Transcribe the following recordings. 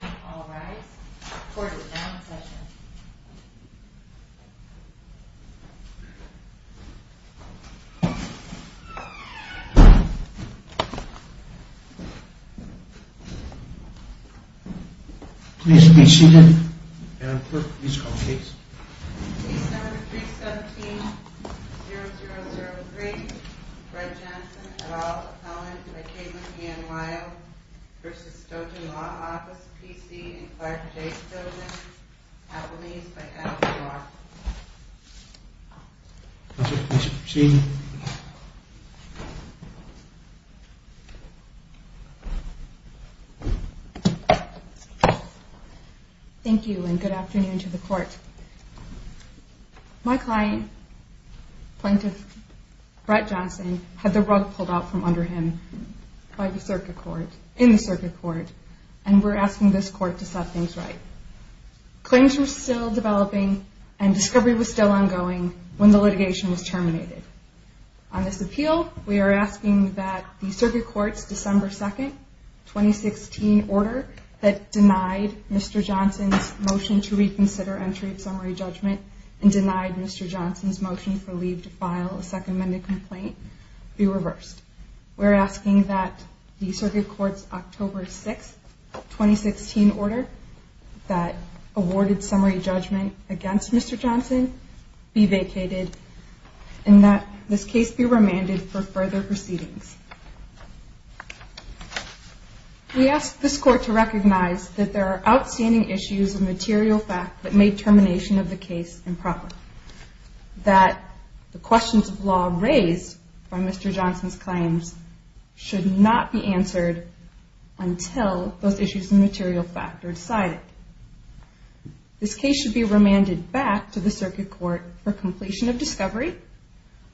All rise. Court is now in session. Please be seated and please call the case. Case number 317-0003. Brett Johnson, et al., opponent by Katelyn Ann Weill v. Stojan Law Office P.C. and Clark J. Stojan, athletes by Allen Law. Please be seated. Thank you and good afternoon to the court. My client, Plaintiff Brett Johnson, had the rug pulled out from under him in the circuit court and we're asking this court to set things right. Claims were still developing and discovery was still ongoing when the litigation was terminated. On this appeal, we are asking that the circuit court's December 2, 2016 order that denied Mr. Johnson's motion to reconsider entry of summary judgment and denied Mr. Johnson's motion for leave to file a second amended complaint be reversed. We're asking that the circuit court's October 6, 2016 order that awarded summary judgment against Mr. Johnson be vacated and that this case be remanded for further proceedings. We ask this court to recognize that there are outstanding issues of material fact that made termination of the case improper, that the questions of law raised by Mr. Johnson's claims should not be answered until those issues of material fact are decided. This case should be remanded back to the circuit court for completion of discovery,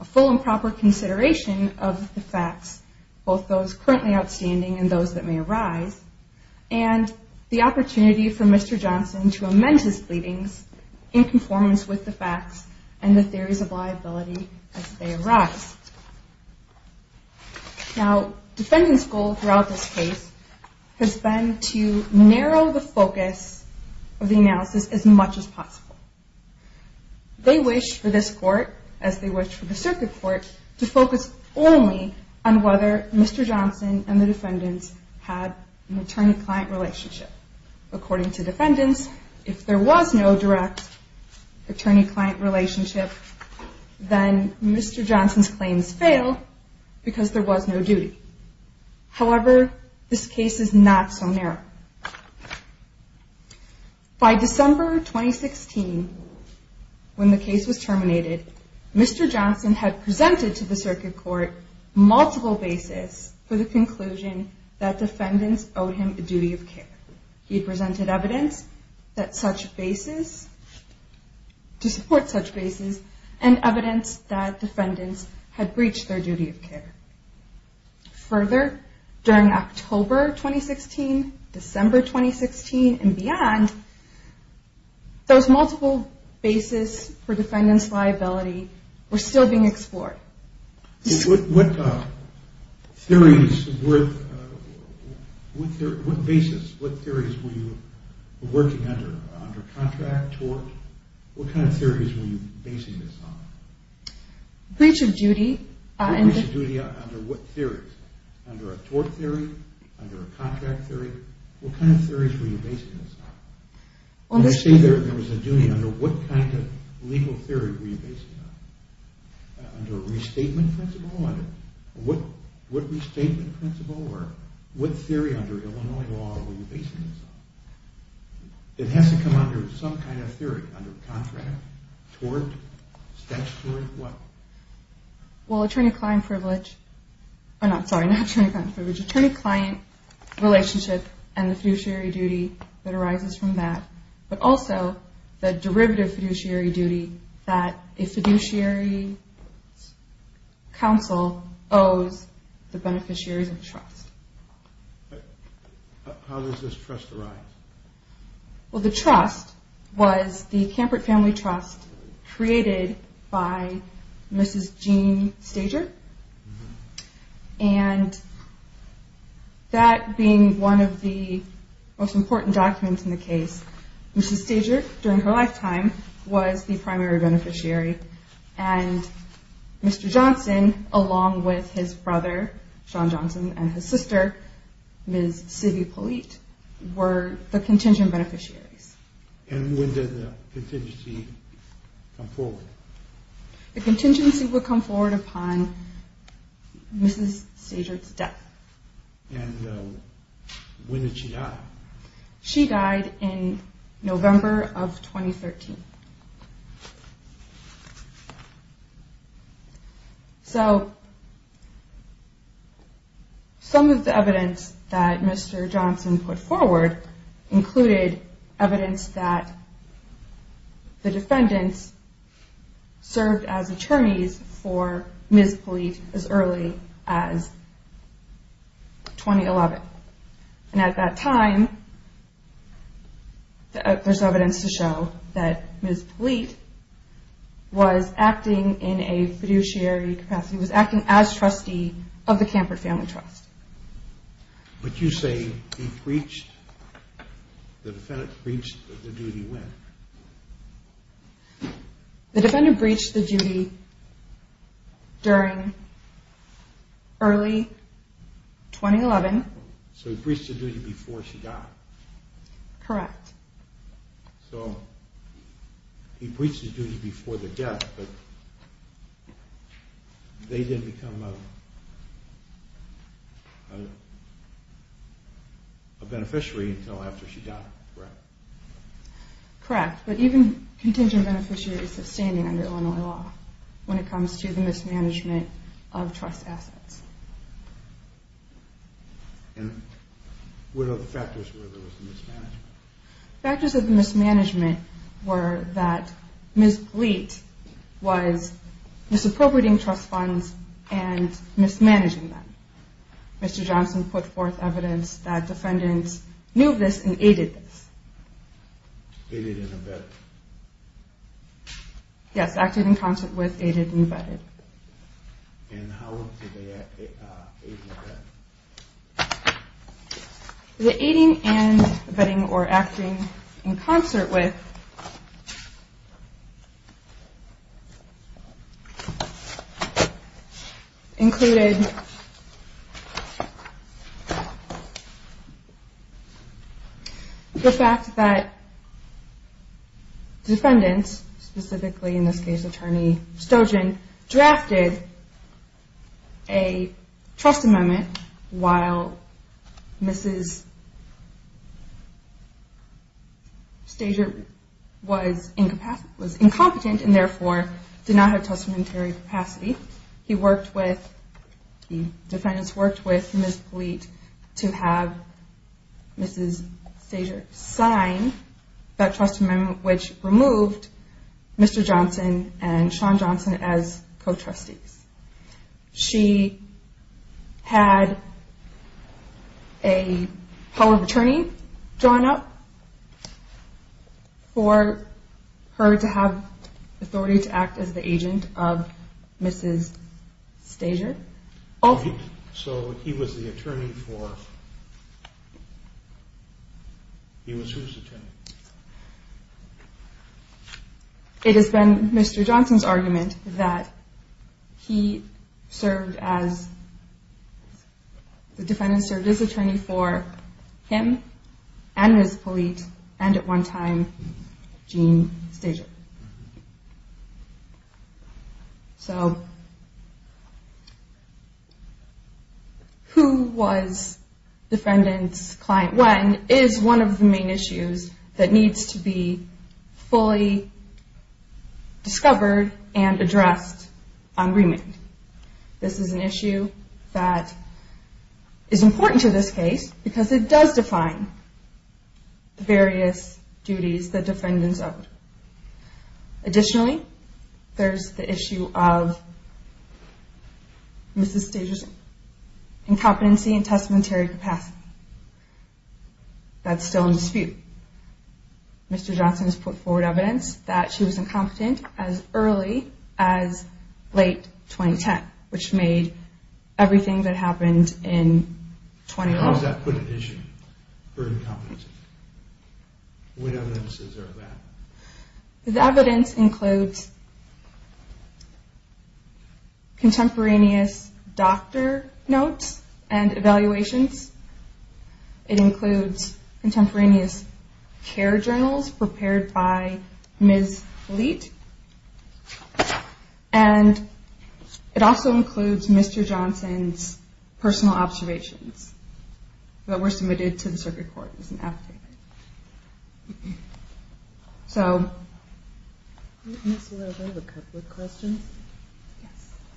a full and proper consideration of the facts, both those currently outstanding and those that may arise, and the opportunity for Mr. Johnson to amend his pleadings in conformance with the facts and the theories of liability as they arise. Now, defendants' goal throughout this case has been to narrow the focus of the analysis as much as possible. They wish for this court, as they wish for the circuit court, to focus only on whether Mr. Johnson and the defendants had an attorney-client relationship. According to defendants, if there was no direct attorney-client relationship, then Mr. Johnson's claims fail because there was no duty. However, this case is not so narrow. By December 2016, when the case was terminated, Mr. Johnson had presented to the circuit court multiple bases for the conclusion that defendants owed him a duty of care. He presented evidence to support such bases and evidence that defendants had breached their duty of care. Further, during October 2016, December 2016, and beyond, those multiple bases for defendants' liability were still being explored. What theories, what bases, what theories were you working under, under contract, tort? What kind of theories were you basing this on? Breach of duty. Breach of duty under what theories? Under a tort theory? Under a contract theory? What kind of theories were you basing this on? When I say there was a duty, under what kind of legal theory were you basing this on? Under a restatement principle? Under what restatement principle or what theory under Illinois law were you basing this on? It has to come under some kind of theory, under contract, tort, statutory, what? Well, attorney-client privilege, I'm sorry, not attorney-client privilege, attorney-client relationship and the fiduciary duty that arises from that, but also the derivative fiduciary duty that a fiduciary counsel owes the beneficiaries of trust. How does this trust arise? Well, the trust was the Kampert Family Trust created by Mrs. Jean Stager, and that being one of the most important documents in the case, Mrs. Stager, during her lifetime, was the primary beneficiary, and Mr. Johnson, along with his brother, Sean Johnson, and his sister, Ms. Sibby Polite, were the contingent beneficiaries. And when did the contingency come forward? The contingency would come forward upon Mrs. Stager's death. And when did she die? She died in November of 2013. So, some of the evidence that Mr. Johnson put forward included evidence that the defendants served as attorneys for Ms. Polite as early as 2011. And at that time, there's evidence to show that Ms. Polite was acting in a fiduciary capacity, was acting as trustee of the Kampert Family Trust. But you say the defendant breached the duty when? The defendant breached the duty during early 2011. So he breached the duty before she died? Correct. So, he breached the duty before the death, but they didn't become a beneficiary until after she died, correct? Correct. But even contingent beneficiaries are standing under Illinois law when it comes to the mismanagement of trust assets. And what other factors were there with the mismanagement? Factors of the mismanagement were that Ms. Gleat was misappropriating trust funds and mismanaging them. Mr. Johnson put forth evidence that defendants knew this and aided this. Aided and abetted? Yes, acted in concert with, aided and abetted. And how was the aiding and abetting? The aiding and abetting, or acting in concert with, included the fact that defendants, specifically in this case Attorney Stojan, drafted a trust amendment while Ms. Stojan was incompetent and therefore did not have testamentary capacity. He worked with, the defendants worked with Ms. Gleat to have Ms. Stojan sign that trust amendment which removed Mr. Johnson and Shawn Johnson as co-trustees. She had a power of attorney drawn up for her to have authority to act as the agent of Ms. Stojan. So he was the attorney for, he was whose attorney? It has been Mr. Johnson's argument that he served as, the defendants served as attorney for him and Ms. Gleat and at one time Gene Stojan. So who was defendants client when is one of the main issues that needs to be fully discovered and addressed on remand. This is an issue that is important to this case because it does define various duties that defendants owe. Additionally, there is the issue of Ms. Stojan's incompetency and testamentary capacity. That is still in dispute. Mr. Johnson has put forward evidence that she was incompetent as early as late 2010 which made everything that happened in 2012. How does that put an issue for incompetency? What evidence is there of that? The evidence includes contemporaneous doctor notes and evaluations. It includes contemporaneous care journals prepared by Ms. Gleat. And it also includes Mr. Johnson's personal observations that were submitted to the circuit court as an affidavit. Ms. Leather, I have a couple of questions.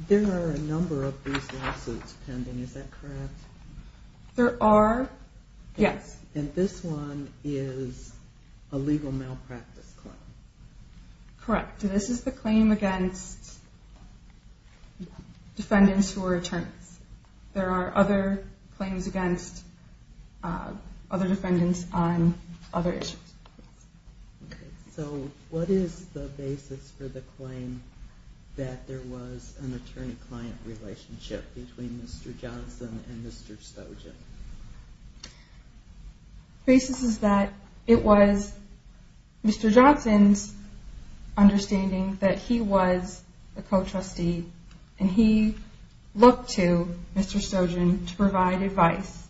There are a number of these lawsuits pending, is that correct? There are, yes. And this one is a legal malpractice claim. Correct. This is the claim against defendants who are attorneys. There are other claims against other defendants on other issues. So what is the basis for the claim that there was an attorney-client relationship between Mr. Johnson and Mr. Stojan? The basis is that it was Mr. Johnson's understanding that he was a co-trustee and he looked to Mr. Stojan to provide advice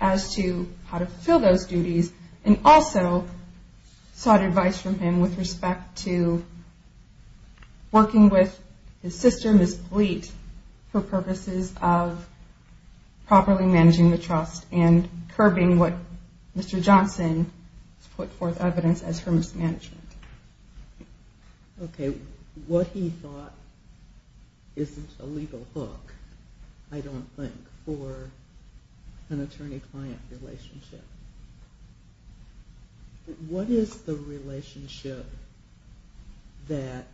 as to how to fulfill those duties and also sought advice from him with respect to working with his sister, Ms. Gleat, for purposes of properly managing the trust and curbing what Mr. Johnson has put forth evidence as her mismanagement. Okay. What he thought isn't a legal hook, I don't think, for an attorney-client relationship. What is the relationship that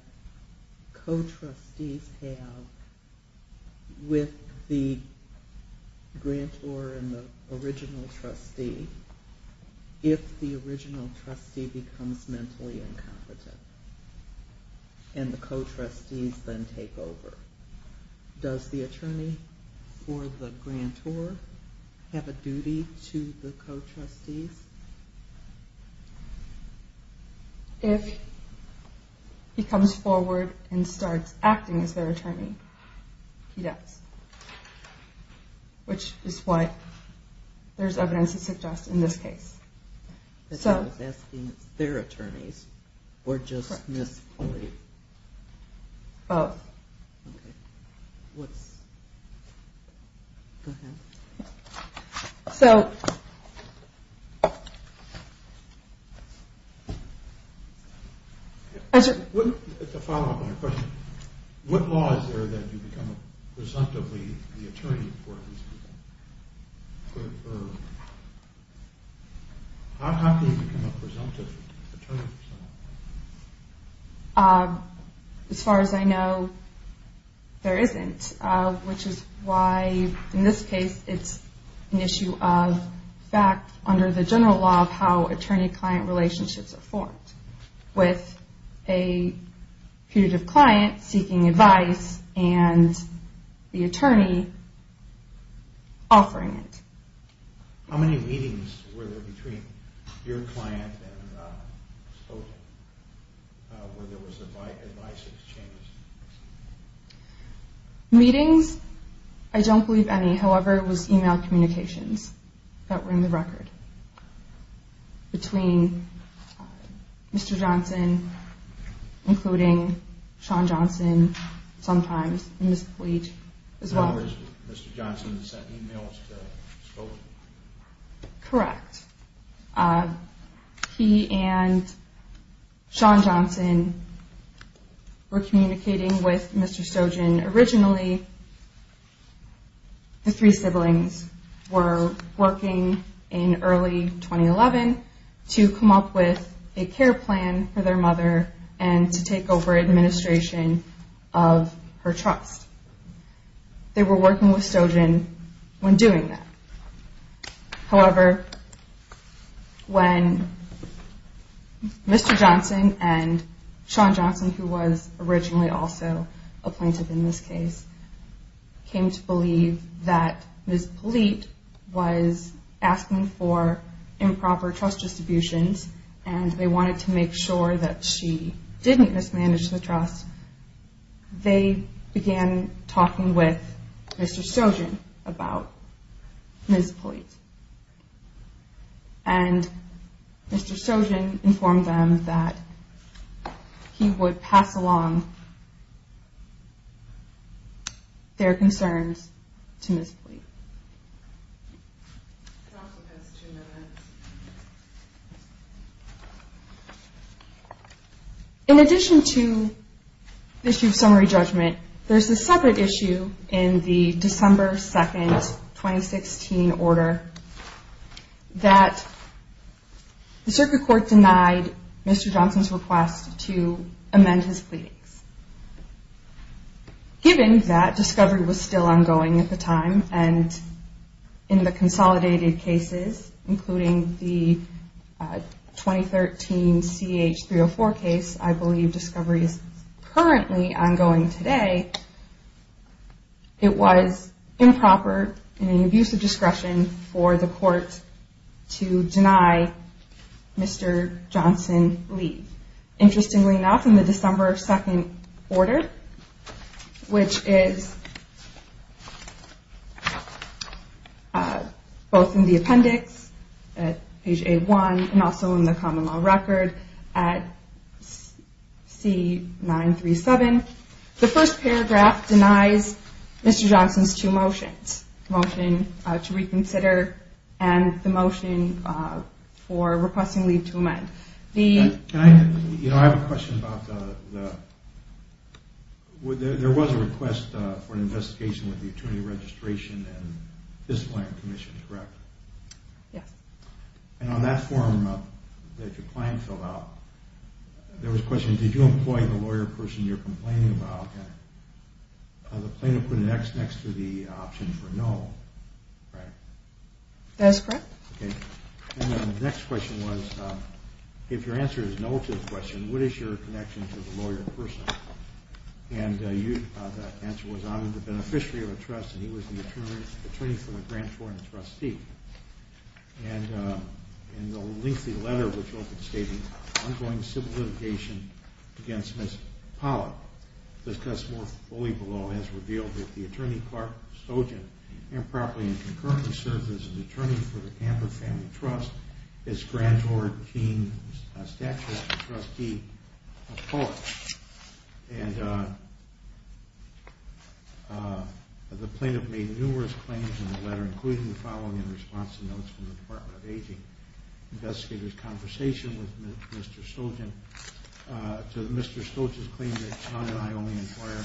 co-trustees have with the grantor and the original trustee if the original trustee becomes mentally incompetent and the co-trustees then take over? Does the attorney for the grantor have a duty to the co-trustees? If he comes forward and starts acting as their attorney, he does, which is what there is evidence to suggest in this case. I was asking if it's their attorneys or just Ms. Gleat? Both. Okay. Go ahead. So... It's a follow-up to my question. What law is there that you become presumptively the attorney for these people? How can you become a presumptive attorney for someone like that? As far as I know, there isn't. Which is why, in this case, it's an issue of fact under the general law of how attorney-client relationships are formed. With a putative client seeking advice and the attorney offering it. How many meetings were there between your client and Ms. Gleat where there was advice exchanged? Meetings? I don't believe any. However, it was email communications that were in the record. Between Mr. Johnson, including Shawn Johnson, sometimes, and Ms. Gleat as well. Mr. Johnson sent emails to Stojan? Correct. He and Shawn Johnson were communicating with Mr. Stojan originally. The three siblings were working in early 2011 to come up with a care plan for their mother and to take over administration of her trust. They were working with Stojan when doing that. However, when Mr. Johnson and Shawn Johnson, who was originally also a plaintiff in this case, came to believe that Ms. Gleat was asking for improper trust distributions and they wanted to make sure that she didn't mismanage the trust, they began talking with Mr. Stojan about Ms. Gleat. And Mr. Stojan informed them that he would pass along their concerns to Ms. Gleat. In addition to the issue of summary judgment, there's a separate issue in the December 2nd, 2016 order that the circuit court denied Mr. Johnson's request to amend his pleadings. Given that discovery was still ongoing at the time and in the consolidated cases, including the 2013 CH-304 case, I believe discovery is currently ongoing today, it was improper and an abuse of discretion for the court to deny Mr. Johnson leave. Interestingly enough, in the December 2nd order, which is both in the appendix at page A-1 and also in the common law record at C-937, the first paragraph denies Mr. Johnson's two motions, the motion to reconsider and the motion for requesting leave to amend. I have a question about the... There was a request for an investigation with the Attorney Registration and Disciplinary Commission, correct? Yes. And on that form that your client filled out, there was a question, did you employ the lawyer person you're complaining about? The plaintiff put an X next to the option for no, right? That is correct. And the next question was, if your answer is no to the question, what is your connection to the lawyer person? And the answer was, I'm the beneficiary of a trust and he was the attorney for the grant for the trustee. And in the lengthy letter which was stated, ongoing civil litigation against Ms. Pollack, discussed more fully below, has revealed that the attorney, Clark Stojan, improperly and concurrently served as an attorney for the Kamper Family Trust, his granddaughter, Jean Stachowiak, the trustee of Pollack. And the plaintiff made numerous claims in the letter, including the following in response to notes from the Department of Aging, investigators' conversation with Mr. Stojan. To Mr. Stojan's claim that Tom and I only inquire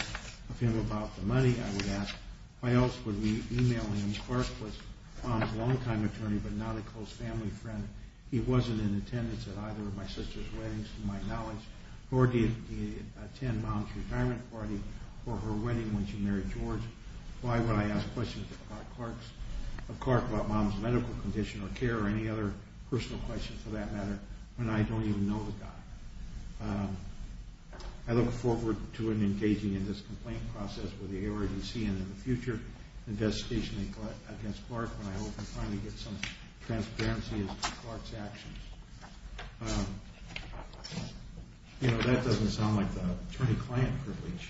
of him about the money, I would ask, why else would we email him? Clark was Tom's longtime attorney but not a close family friend. He wasn't in attendance at either of my sister's weddings, to my knowledge, nor did he attend Mom's retirement party or her wedding when she married George. Why would I ask questions of Clark about Mom's medical condition or care or any other personal questions for that matter when I don't even know the guy? I look forward to engaging in this complaint process with the AORGC and in the future investigation against Clark when I hope to finally get some transparency as to Clark's actions. You know, that doesn't sound like the attorney-client privilege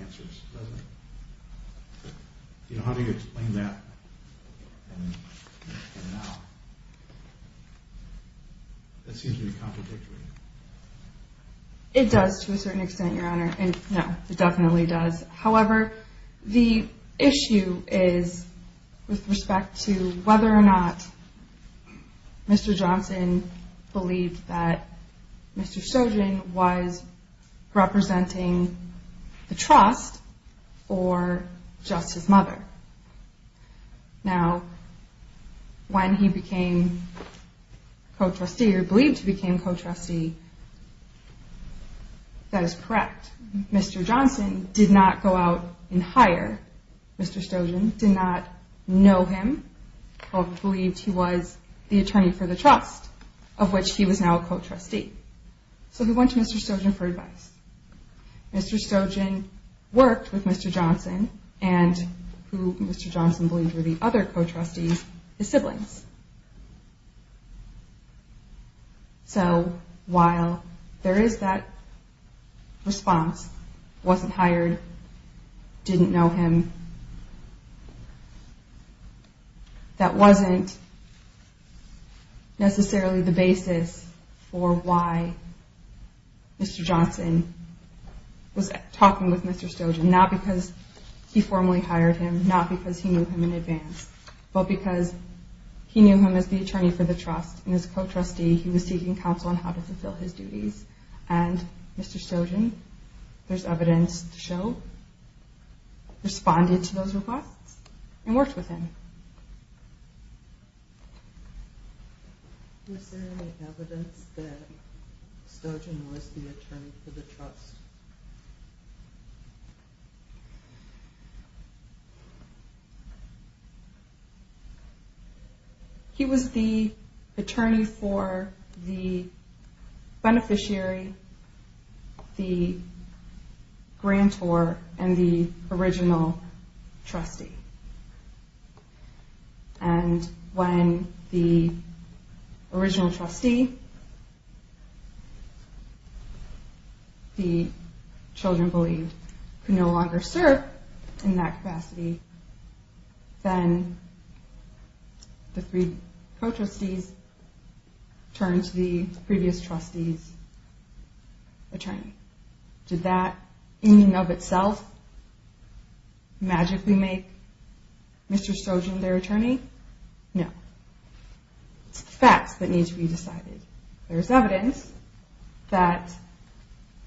answers, does it? You know, how do you explain that? That seems to be contradictory. It does to a certain extent, Your Honor. No, it definitely does. However, the issue is with respect to whether or not Mr. Johnson believed that Mr. Stojan was representing the trust or just his mother. Now, when he became co-trustee or believed he became co-trustee, that is correct. Mr. Johnson did not go out and hire Mr. Stojan, did not know him, or believed he was the attorney for the trust of which he was now a co-trustee. So he went to Mr. Stojan for advice. Mr. Stojan worked with Mr. Johnson, and who Mr. Johnson believed were the other co-trustees, his siblings. So while there is that response, wasn't hired, didn't know him, that wasn't necessarily the basis for why Mr. Johnson was talking with Mr. Stojan. Not because he formally hired him, not because he knew him in advance, but because he knew him as the attorney for the trust, and as a co-trustee, he was seeking counsel on how to fulfill his duties. And Mr. Stojan, there is evidence to show, responded to those requests and worked with him. Is there any evidence that Stojan was the attorney for the trust? He was the attorney for the beneficiary, the grantor, and the original trustee. And when the original trustee, the children believed, could no longer serve in that capacity, then the three co-trustees turned to the previous trustee's attorney. Did that in and of itself magically make Mr. Stojan their attorney? No. It's the facts that need to be decided. There is evidence that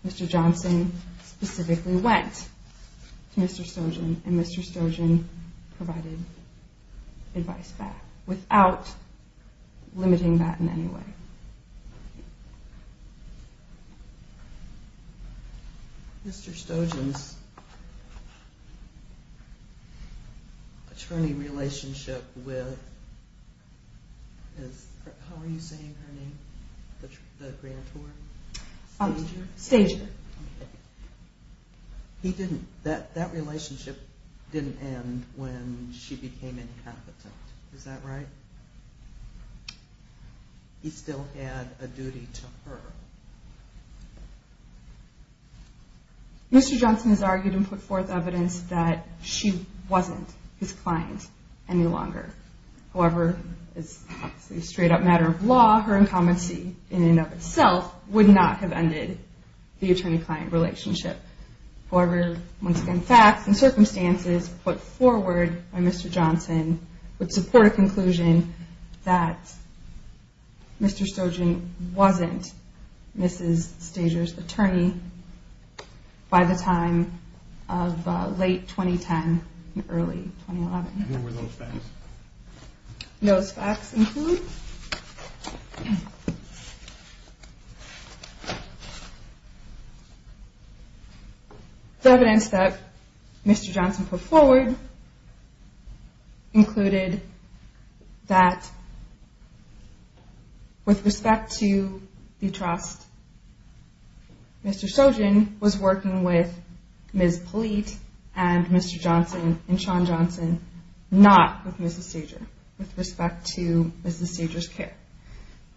Mr. Johnson specifically went to Mr. Stojan, and Mr. Stojan provided advice back without limiting that in any way. Mr. Stojan's attorney relationship with, how are you saying her name, the grantor? Stager. He didn't, that relationship didn't end when she became incompetent. Is that right? He still had a duty to her. Mr. Johnson has argued and put forth evidence that she wasn't his client any longer. However, it's obviously a straight up matter of law. Her incompetency in and of itself would not have ended the attorney-client relationship. However, once again, facts and circumstances put forward by Mr. Johnson would support a conclusion that Mr. Stojan wasn't Mrs. Stager's attorney by the time of late 2010 and early 2011. What were those facts? Those facts include the evidence that Mr. Johnson put forward included that with respect to the trust, Mr. Stojan was working with Ms. Polite and Mr. Johnson and Sean Johnson, not with Mrs. Stager with respect to Mrs. Stager's care.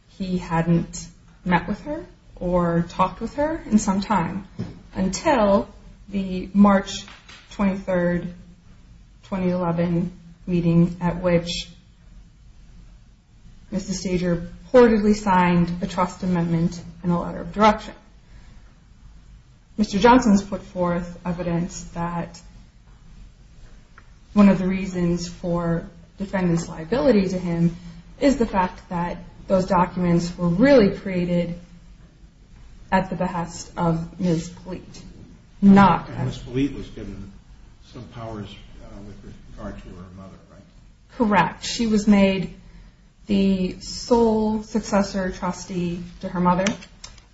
He hadn't met with her or talked with her in some time until the March 23, 2011 meeting at which Mrs. Stager reportedly signed a trust amendment and a letter of direction. Mr. Johnson's put forth evidence that one of the reasons for defendant's liability to him is the fact that those documents were really created at the behest of Ms. Polite. And Ms. Polite was given some powers with regard to her mother, right? Correct. She was made the sole successor trustee to her mother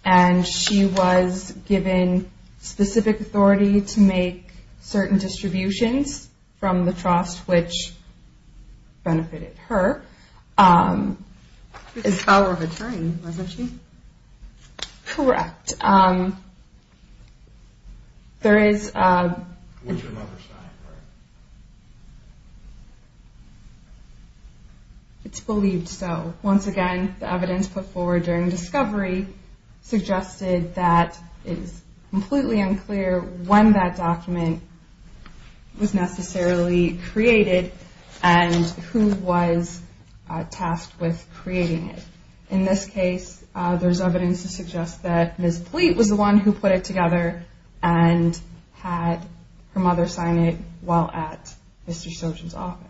and she was given specific authority to make certain distributions from the trust which benefited her. She was the power of attorney, wasn't she? Correct. It's believed so. Once again, the evidence put forward during discovery suggested that it is completely unclear when that document was necessarily created and who was tasked with creating it. In this case, there's evidence to suggest that Ms. Polite was the one who put it together and had her mother sign it while at Mr. Stogen's office.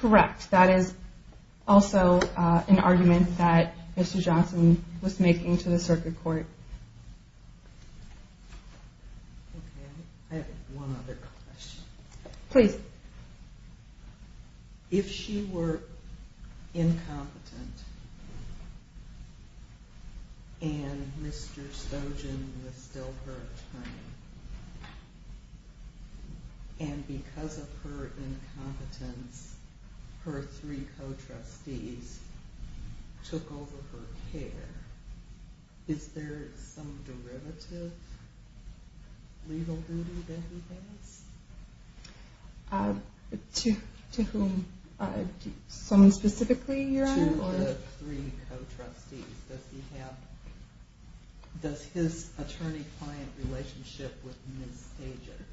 Correct. That is also an argument that Mr. Johnson was making to the circuit court. I have one other question. Please. If she were incompetent and Mr. Stogen was still her attorney and because of her incompetence her three co-trustees took over her care, is there some derivative legal duty that he has? To whom? Someone specifically, Your Honor? To the three co-trustees. Does his attorney-client relationship with Ms. Stogen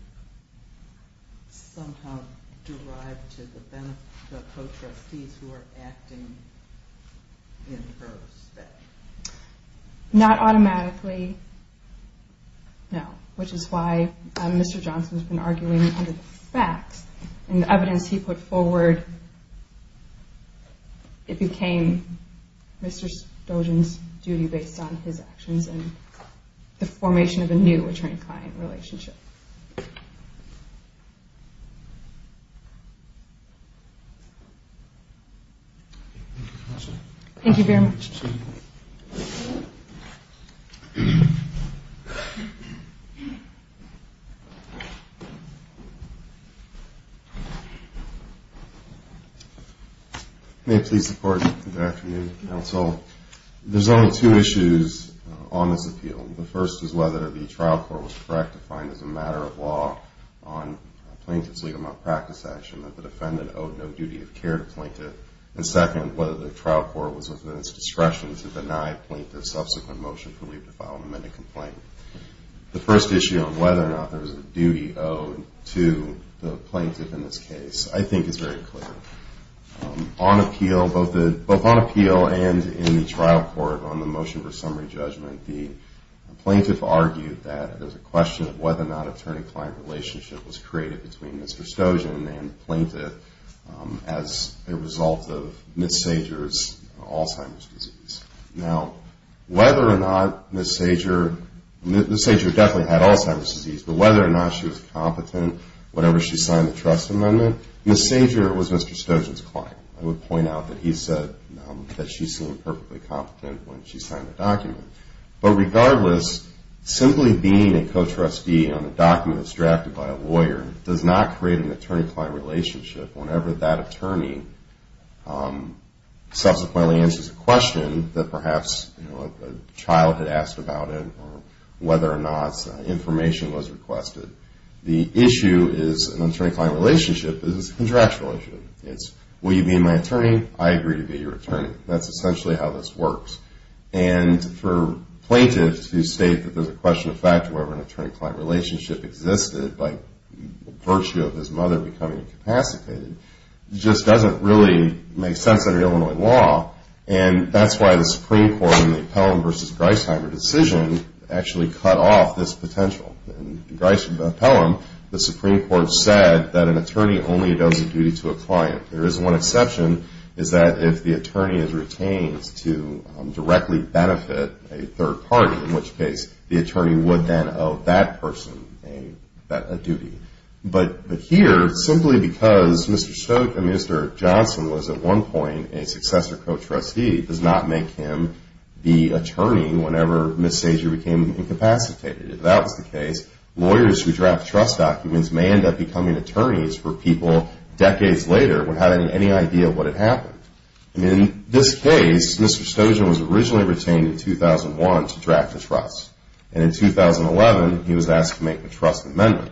somehow derive to the co-trustees who are acting in her respect? Not automatically, no, which is why Mr. Johnson has been arguing under the facts and the evidence he put forward, it became Mr. Stogen's duty based on his actions and the formation of a new attorney-client relationship. Thank you, Counsel. Thank you very much. May it please the Court, good afternoon. Counsel, there's only two issues on this appeal. The first is whether the trial court was correct to find as a matter of law on a plaintiff's legal malpractice action that the defendant owed no duty of care to the plaintiff. And second, whether the trial court was within its discretion to deny the plaintiff's subsequent motion for leave to file an amended complaint. The first issue on whether or not there was a duty owed to the plaintiff in this case, I think is very clear. Both on appeal and in the trial court on the motion for summary judgment, the plaintiff argued that it was a question of whether or not an attorney-client relationship was created between Mr. Stogen and the plaintiff as a result of Ms. Sager's Alzheimer's disease. Now, whether or not Ms. Sager definitely had Alzheimer's disease, but whether or not she was competent whenever she signed the trust amendment, Ms. Sager was Mr. Stogen's client. I would point out that he said that she seemed perfectly competent when she signed the document. But regardless, simply being a co-trustee on a document that's drafted by a lawyer does not create an attorney-client relationship whenever that attorney subsequently answers a question that perhaps a child had asked about it or whether or not information was requested. The issue is an attorney-client relationship is a contractual issue. It's, will you be my attorney? I agree to be your attorney. That's essentially how this works. And for a plaintiff to state that there's a question of whether or not an attorney-client relationship existed by virtue of his mother becoming incapacitated just doesn't really make sense under Illinois law. And that's why the Supreme Court in the Pelham v. Griesheimer decision actually cut off this potential. In Griesheimer v. Pelham, the Supreme Court said that an attorney only does a duty to a client. There is one exception, is that if the attorney is retained to directly benefit a third party, in which case the attorney would then owe that person a duty. But here, simply because Mr. Stoke and Mr. Johnson was at one point a successor co-trustee does not make him the attorney whenever Ms. Sager became incapacitated. If that was the case, lawyers who draft trust documents may end up becoming attorneys for people decades later without any idea of what had happened. And in this case, Mr. Stoker was originally retained in 2001 to draft a trust. And in 2011, he was asked to make a trust amendment.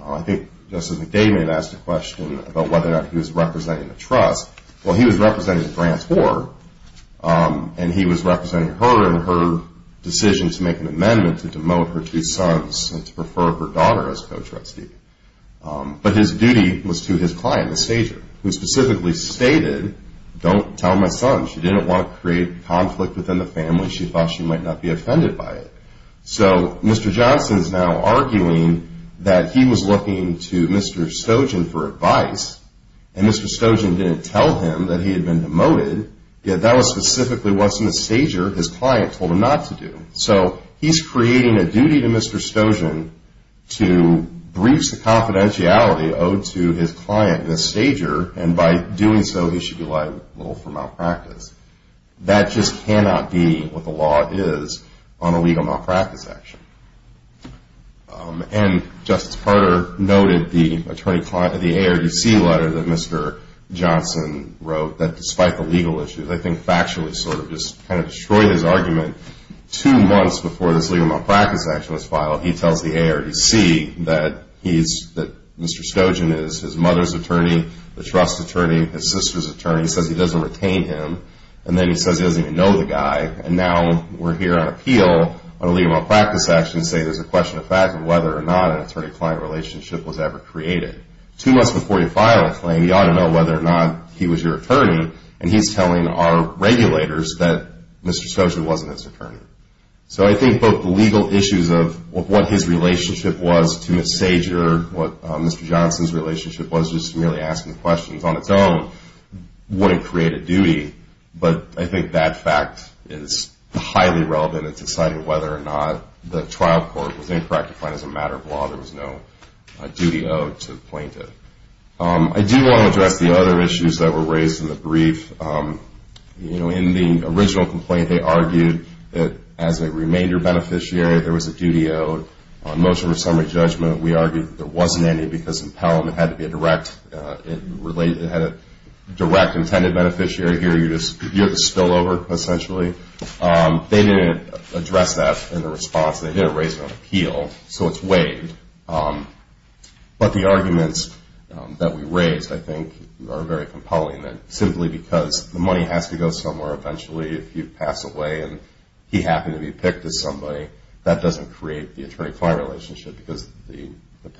I think Justice McDavid had asked a question about whether or not he was representing the trust. Well, he was representing the grantor, and he was representing her in her decision to make an amendment to demote her two sons and to prefer her daughter as co-trustee. But his duty was to his client, Ms. Sager, who specifically stated, don't tell my son, she didn't want to create conflict within the family. She thought she might not be offended by it. So Mr. Johnson is now arguing that he was looking to Mr. Stojan for advice, and Mr. Stojan didn't tell him that he had been demoted, yet that was specifically what Ms. Sager, his client, told him not to do. So he's creating a duty to Mr. Stojan to breach the confidentiality owed to his client, Ms. Sager, and by doing so, he should be liable for malpractice. That just cannot be what the law is on a legal malpractice action. And Justice Carter noted the ARDC letter that Mr. Johnson wrote, that despite the legal issues, I think factually sort of just kind of destroyed his argument, two months before this legal malpractice action was filed, he tells the ARDC that Mr. Stojan is his mother's attorney, the trust attorney, his sister's attorney. He says he doesn't retain him, and then he says he doesn't even know the guy, and now we're here on appeal on a legal malpractice action to say there's a question of fact of whether or not an attorney-client relationship was ever created. Two months before you file a claim, you ought to know whether or not he was your attorney, and he's telling our regulators that Mr. Stojan wasn't his attorney. So I think both the legal issues of what his relationship was to Ms. Sager, what Mr. Johnson's relationship was just merely asking questions on its own, wouldn't create a duty, but I think that fact is highly relevant in deciding whether or not the trial court was incorrect to find as a matter of law there was no duty owed to the plaintiff. I do want to address the other issues that were raised in the brief. In the original complaint, they argued that as a remainder beneficiary, there was a duty owed. On motion for summary judgment, we argued that there wasn't any because impelment had to be a direct intended beneficiary. Here you have a spillover, essentially. They didn't address that in the response. They didn't raise it on appeal, so it's waived. But the arguments that we raised, I think, are very compelling, that simply because the money has to go somewhere, eventually if you pass away and he happened to be picked as somebody, that doesn't create the attorney-client relationship because the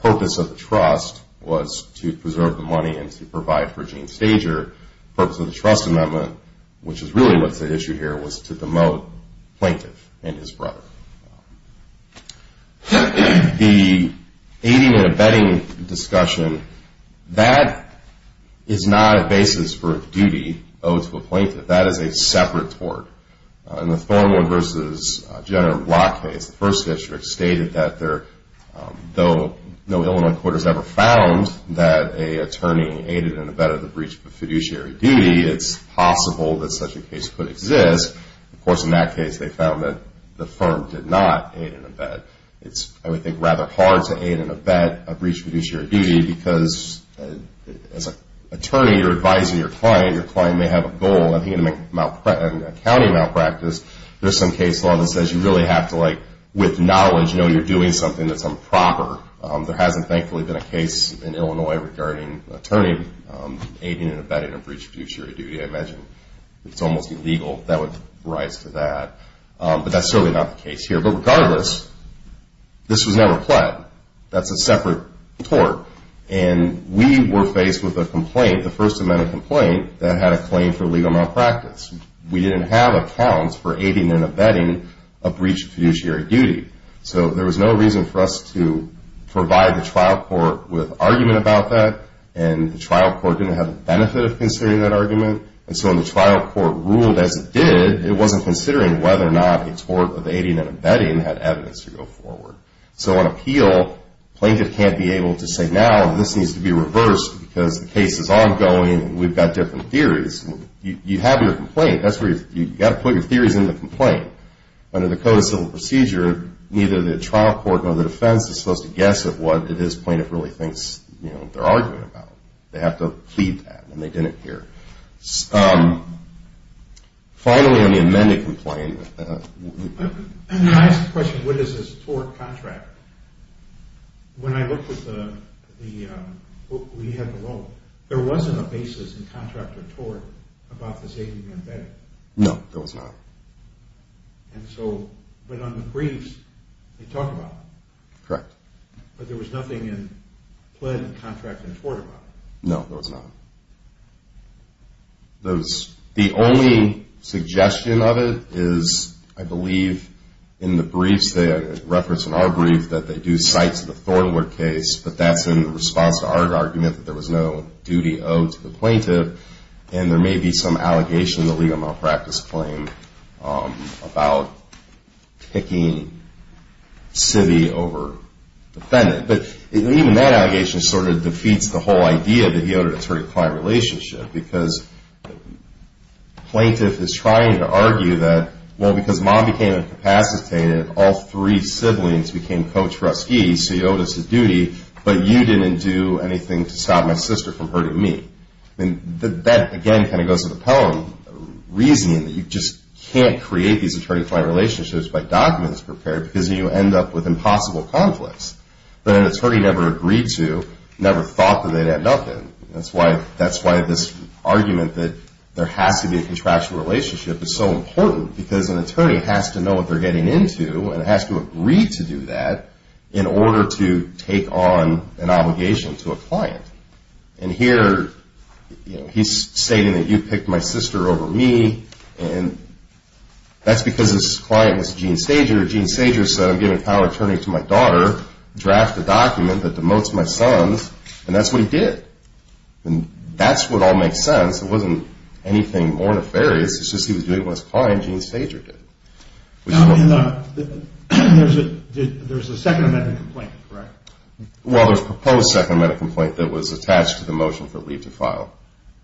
purpose of the trust was to preserve the money and to provide for Gene Sager. The purpose of the trust amendment, which is really what's at issue here, was to demote plaintiff and his brother. The aiding and abetting discussion, that is not a basis for duty owed to a plaintiff. That is a separate tort. In the Thornwood v. General Block case, the first district stated that though no Illinois court has ever found that an attorney aided and abetted the breach of a fiduciary duty, it's possible that such a case could exist. Of course, in that case, they found that the firm did not aid and abet. It's, I would think, rather hard to aid and abet a breach of fiduciary duty because as an attorney, you're advising your client. Your client may have a goal. I think in an accounting malpractice, there's some case law that says you really have to, like, with knowledge, know you're doing something that's improper. There hasn't, thankfully, been a case in Illinois regarding attorney aiding and abetting a breach of fiduciary duty. I imagine it's almost illegal. That would rise to that. But that's certainly not the case here. But regardless, this was never pled. That's a separate tort. And we were faced with a complaint, the First Amendment complaint, that had a claim for legal malpractice. We didn't have accounts for aiding and abetting a breach of fiduciary duty. So there was no reason for us to provide the trial court with argument about that, and the trial court didn't have the benefit of considering that argument. And so when the trial court ruled as it did, it wasn't considering whether or not a tort of aiding and abetting had evidence to go forward. So on appeal, plaintiff can't be able to say, now this needs to be reversed because the case is ongoing and we've got different theories. You have your complaint. That's where you've got to put your theories in the complaint. Under the Code of Civil Procedure, neither the trial court nor the defense is supposed to guess at what it is plaintiff really thinks they're arguing about. They have to plead that, and they didn't here. Finally, on the amended complaint. Can I ask a question? What is this tort contract? When I looked at the book we have below, there wasn't a basis in contract or tort about this aiding and abetting. No, there was not. And so, but on the briefs, they talk about it. Correct. But there was nothing in plan, contract, and tort about it. No, there was not. The only suggestion of it is, I believe, in the briefs, they reference in our brief that they do cite to the Thornwood case, but that's in response to our argument that there was no duty owed to the plaintiff, and there may be some allegation in the legal malpractice claim about picking civvy over defendant. But even that allegation sort of defeats the whole idea that he owed a client relationship, because plaintiff is trying to argue that, well, because mom became incapacitated, all three siblings became coach-ruskies, so he owed us a duty, but you didn't do anything to stop my sister from hurting me. That, again, kind of goes to the poem, reasoning that you just can't create these attorney-client relationships by documents prepared, because then you end up with impossible conflicts that an attorney never agreed to, never thought that they'd end up in. That's why this argument that there has to be a contractual relationship is so important, because an attorney has to know what they're getting into, and has to agree to do that in order to take on an obligation to a client. And here, he's stating that you picked my sister over me, and that's because his client was Gene Sager. Gene Sager said, I'm giving power of attorney to my daughter, draft a document that demotes my sons, and that's what he did. And that's what all makes sense. It wasn't anything more nefarious. It's just he was doing what his client, Gene Sager, did. Now, there's a second amendment complaint, correct? Well, there's a proposed second amendment complaint that was attached to the motion for leave to file.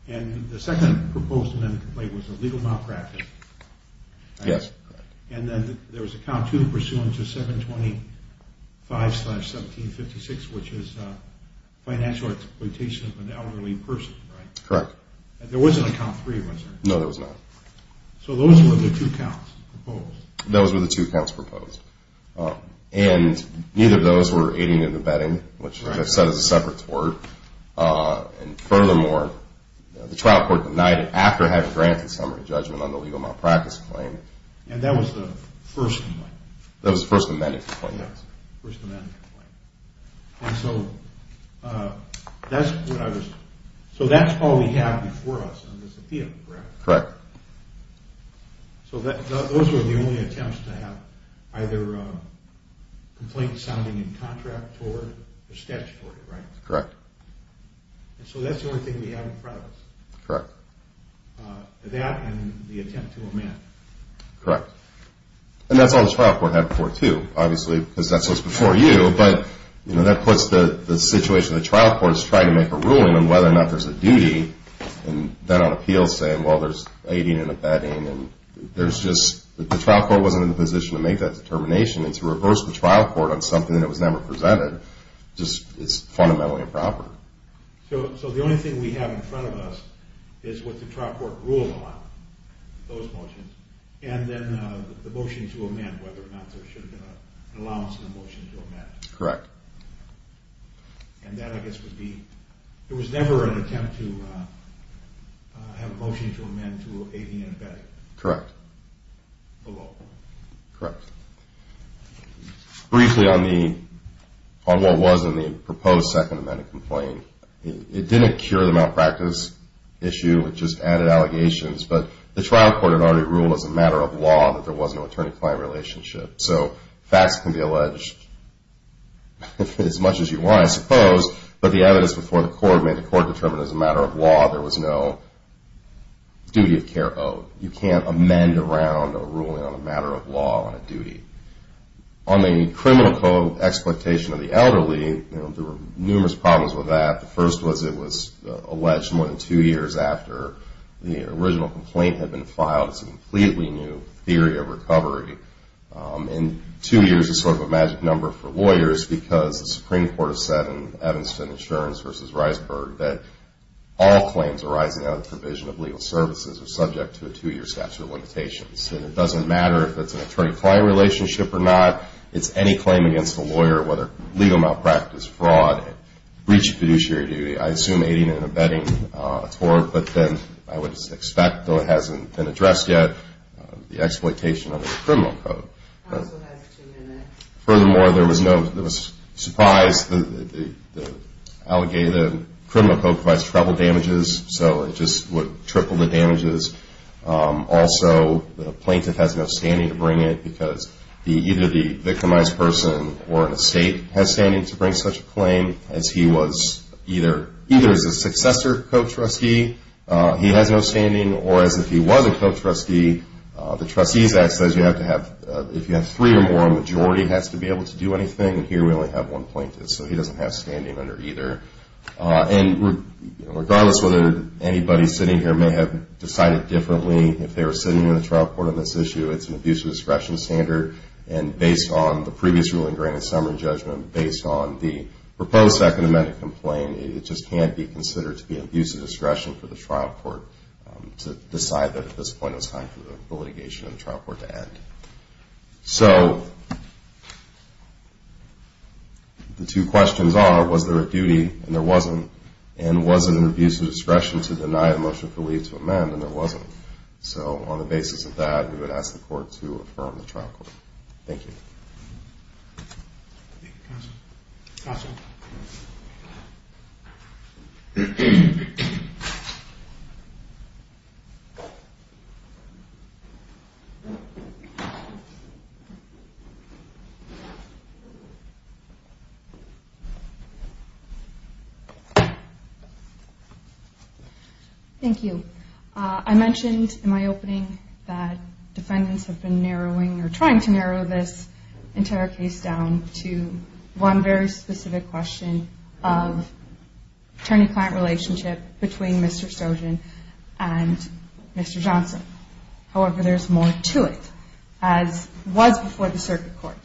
And the second proposed amendment complaint was a legal malpractice? Yes. And then there was a count two pursuant to 725-1756, which is financial exploitation of an elderly person, right? Correct. There wasn't a count three, was there? No, there was not. So those were the two counts proposed? Those were the two counts proposed. And neither of those were aiding and abetting, which I've said is a separate tort. And furthermore, the trial court denied it after having granted summary judgment on the legal malpractice claim. And that was the first amendment? That was the first amendment complaint. Yes, first amendment complaint. And so that's what I was – so that's all we have before us on this appeal, correct? Correct. So those were the only attempts to have either complaints sounding in contract or statutory, right? Correct. And so that's the only thing we have in front of us? Correct. That and the attempt to amend? Correct. And that's all the trial court had before, too, obviously, because that's what's before you. But that puts the situation the trial court is trying to make a ruling on, whether or not there's a duty. And then on appeal saying, well, there's aiding and abetting. And there's just – the trial court wasn't in a position to make that determination. And to reverse the trial court on something that was never presented just is fundamentally improper. So the only thing we have in front of us is what the trial court ruled on, those motions, and then the motion to amend, whether or not there should be an allowance in the motion to amend. Correct. And that, I guess, would be – there was never an attempt to have a motion to amend to aiding and abetting? Correct. Below? Correct. Briefly on what was in the proposed Second Amendment complaint, it didn't cure the malpractice issue, it just added allegations. But the trial court had already ruled as a matter of law that there was no attorney-client relationship. So facts can be alleged as much as you want, I suppose, but the evidence before the court made the court determine as a matter of law there was no duty of care owed. You can't amend around a ruling on a matter of law on a duty. On the criminal co-exploitation of the elderly, there were numerous problems with that. The first was it was alleged more than two years after the original complaint had been filed as a completely new theory of recovery. And two years is sort of a magic number for lawyers because the Supreme Court has said in Evanston Insurance v. Reisberg that all claims arising out of the provision of legal services are subject to a two-year statute of limitations. And it doesn't matter if it's an attorney-client relationship or not, it's any claim against a lawyer, whether legal malpractice, fraud, breach of fiduciary duty, I assume aiding and abetting a tort, but then I would expect, though it hasn't been addressed yet, the exploitation of the criminal code. Furthermore, there was no surprise. The criminal code provides treble damages, so it just would triple the damages. Also, the plaintiff has no standing to bring it because either the victimized person or an estate has standing to bring such a claim as he was either a successor co-trustee, he has no standing, or as if he was a co-trustee, the Trustees Act says if you have three or more, a majority has to be able to do anything, and here we only have one plaintiff, so he doesn't have standing under either. And regardless whether anybody sitting here may have decided differently if they were sitting in the trial court on this issue, it's an abuse of discretion standard, and based on the previous ruling, granted summary judgment, based on the proposed Second Amendment complaint, it just can't be considered to be an abuse of discretion for the trial court to decide that at this point it was time for the litigation in the trial court to end. So the two questions are, was there a duty, and there wasn't, and was it an abuse of discretion to deny the motion for leave to amend, and there wasn't. So on the basis of that, we would ask the court to affirm the trial court. Thank you. Thank you. Thank you. I mentioned in my opening that defendants have been narrowing or trying to narrow this entire case down to one very specific question of attorney-client relationship between Mr. Stojan and Mr. Johnson. However, there's more to it, as was before the circuit court.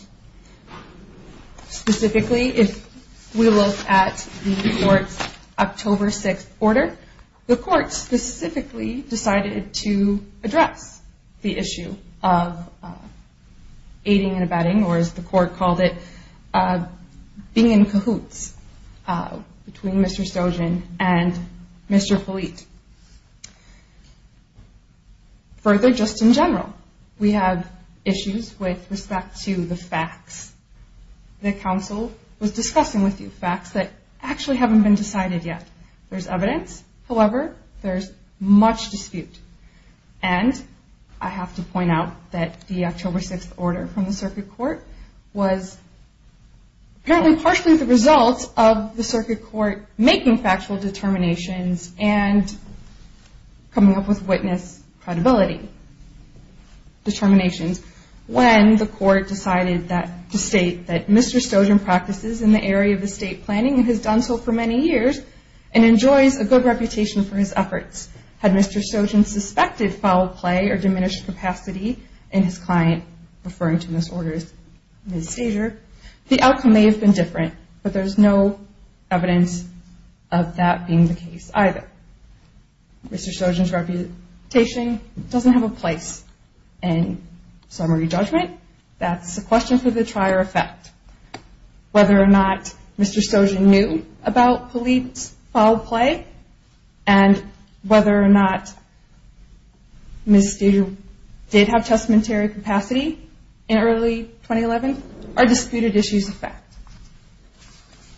Specifically, if we look at the court's October 6th order, the court specifically decided to address the issue of aiding and abetting, or as the court called it, being in cahoots between Mr. Stojan and Mr. Polite. Further, just in general, we have issues with respect to the facts. The counsel was discussing with you facts that actually haven't been decided yet. There's evidence. However, there's much dispute, and I have to point out that the October 6th order from the circuit court was apparently partially the result of the circuit court making factual determinations and coming up with witness credibility determinations when the court decided to state that Mr. Stojan practices in the area of estate planning and has done so for many years and enjoys a good reputation for his efforts. Had Mr. Stojan suspected foul play or diminished capacity in his client referring to misorders in his seizure, the outcome may have been different, but there's no evidence of that being the case either. Mr. Stojan's reputation doesn't have a place in summary judgment. That's a question for the trier of fact. Whether or not Mr. Stojan knew about Polite's foul play and whether or not Ms. Steger did have testamentary capacity in early 2011 are disputed issues of fact.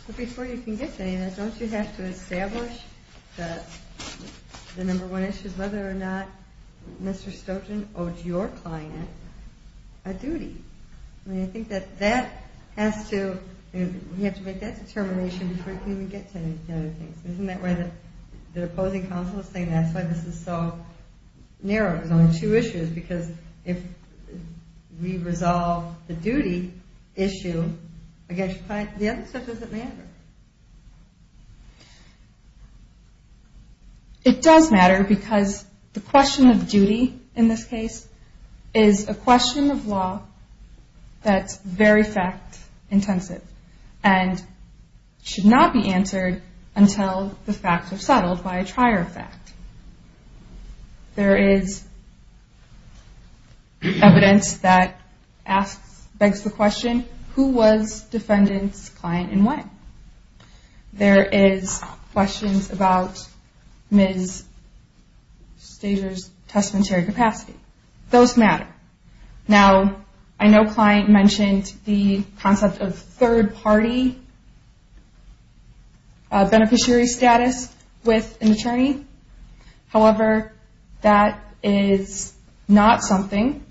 But before you can get to any of that, don't you have to establish the number one issue of whether or not Mr. Stojan owed your client a duty? I mean, I think that that has to, you have to make that determination Isn't that why the opposing counsel is saying that's why this is so narrow? There's only two issues because if we resolve the duty issue against your client, the other stuff doesn't matter. It does matter because the question of duty in this case is a question of law that's very fact intensive and should not be answered until the facts are settled by a trier of fact. There is evidence that begs the question, who was defendant's client and when? There is questions about Ms. Steger's testamentary capacity. Those matter. Now, I know client mentioned the concept of third party beneficiary status with an attorney. However, that is not something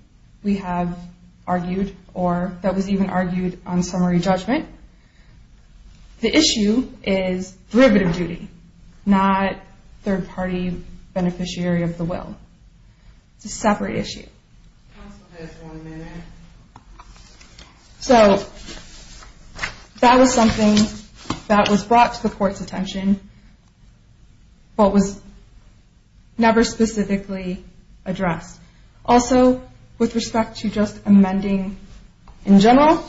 we have argued or that was even argued on summary judgment. The issue is derivative duty, not third party beneficiary of the will. It's a separate issue. So, that was something that was brought to the court's attention but was never specifically addressed. Also, with respect to just amending in general,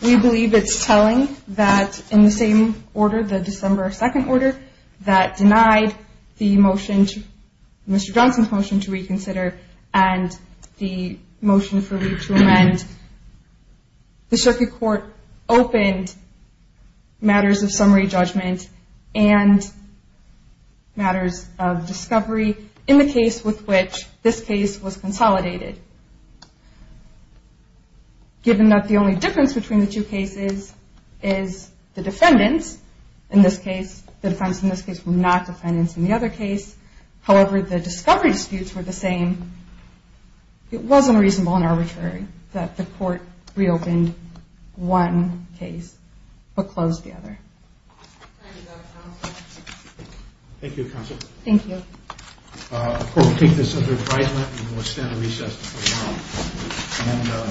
we believe it's telling that in the same order, the December 2nd order, that denied Mr. Johnson's motion to reconsider and the motion for me to amend, the circuit court opened matters of summary judgment and matters of discovery in the case with which this case was consolidated. Given that the only difference between the two cases is the defendants in this case, the defendants in this case were not defendants in the other case, however, the discovery disputes were the same, it wasn't reasonable and arbitrary that the court reopened one case but closed the other. Thank you, counsel. Thank you. The court will take this under advisement and will stand at recess for now. Thank you.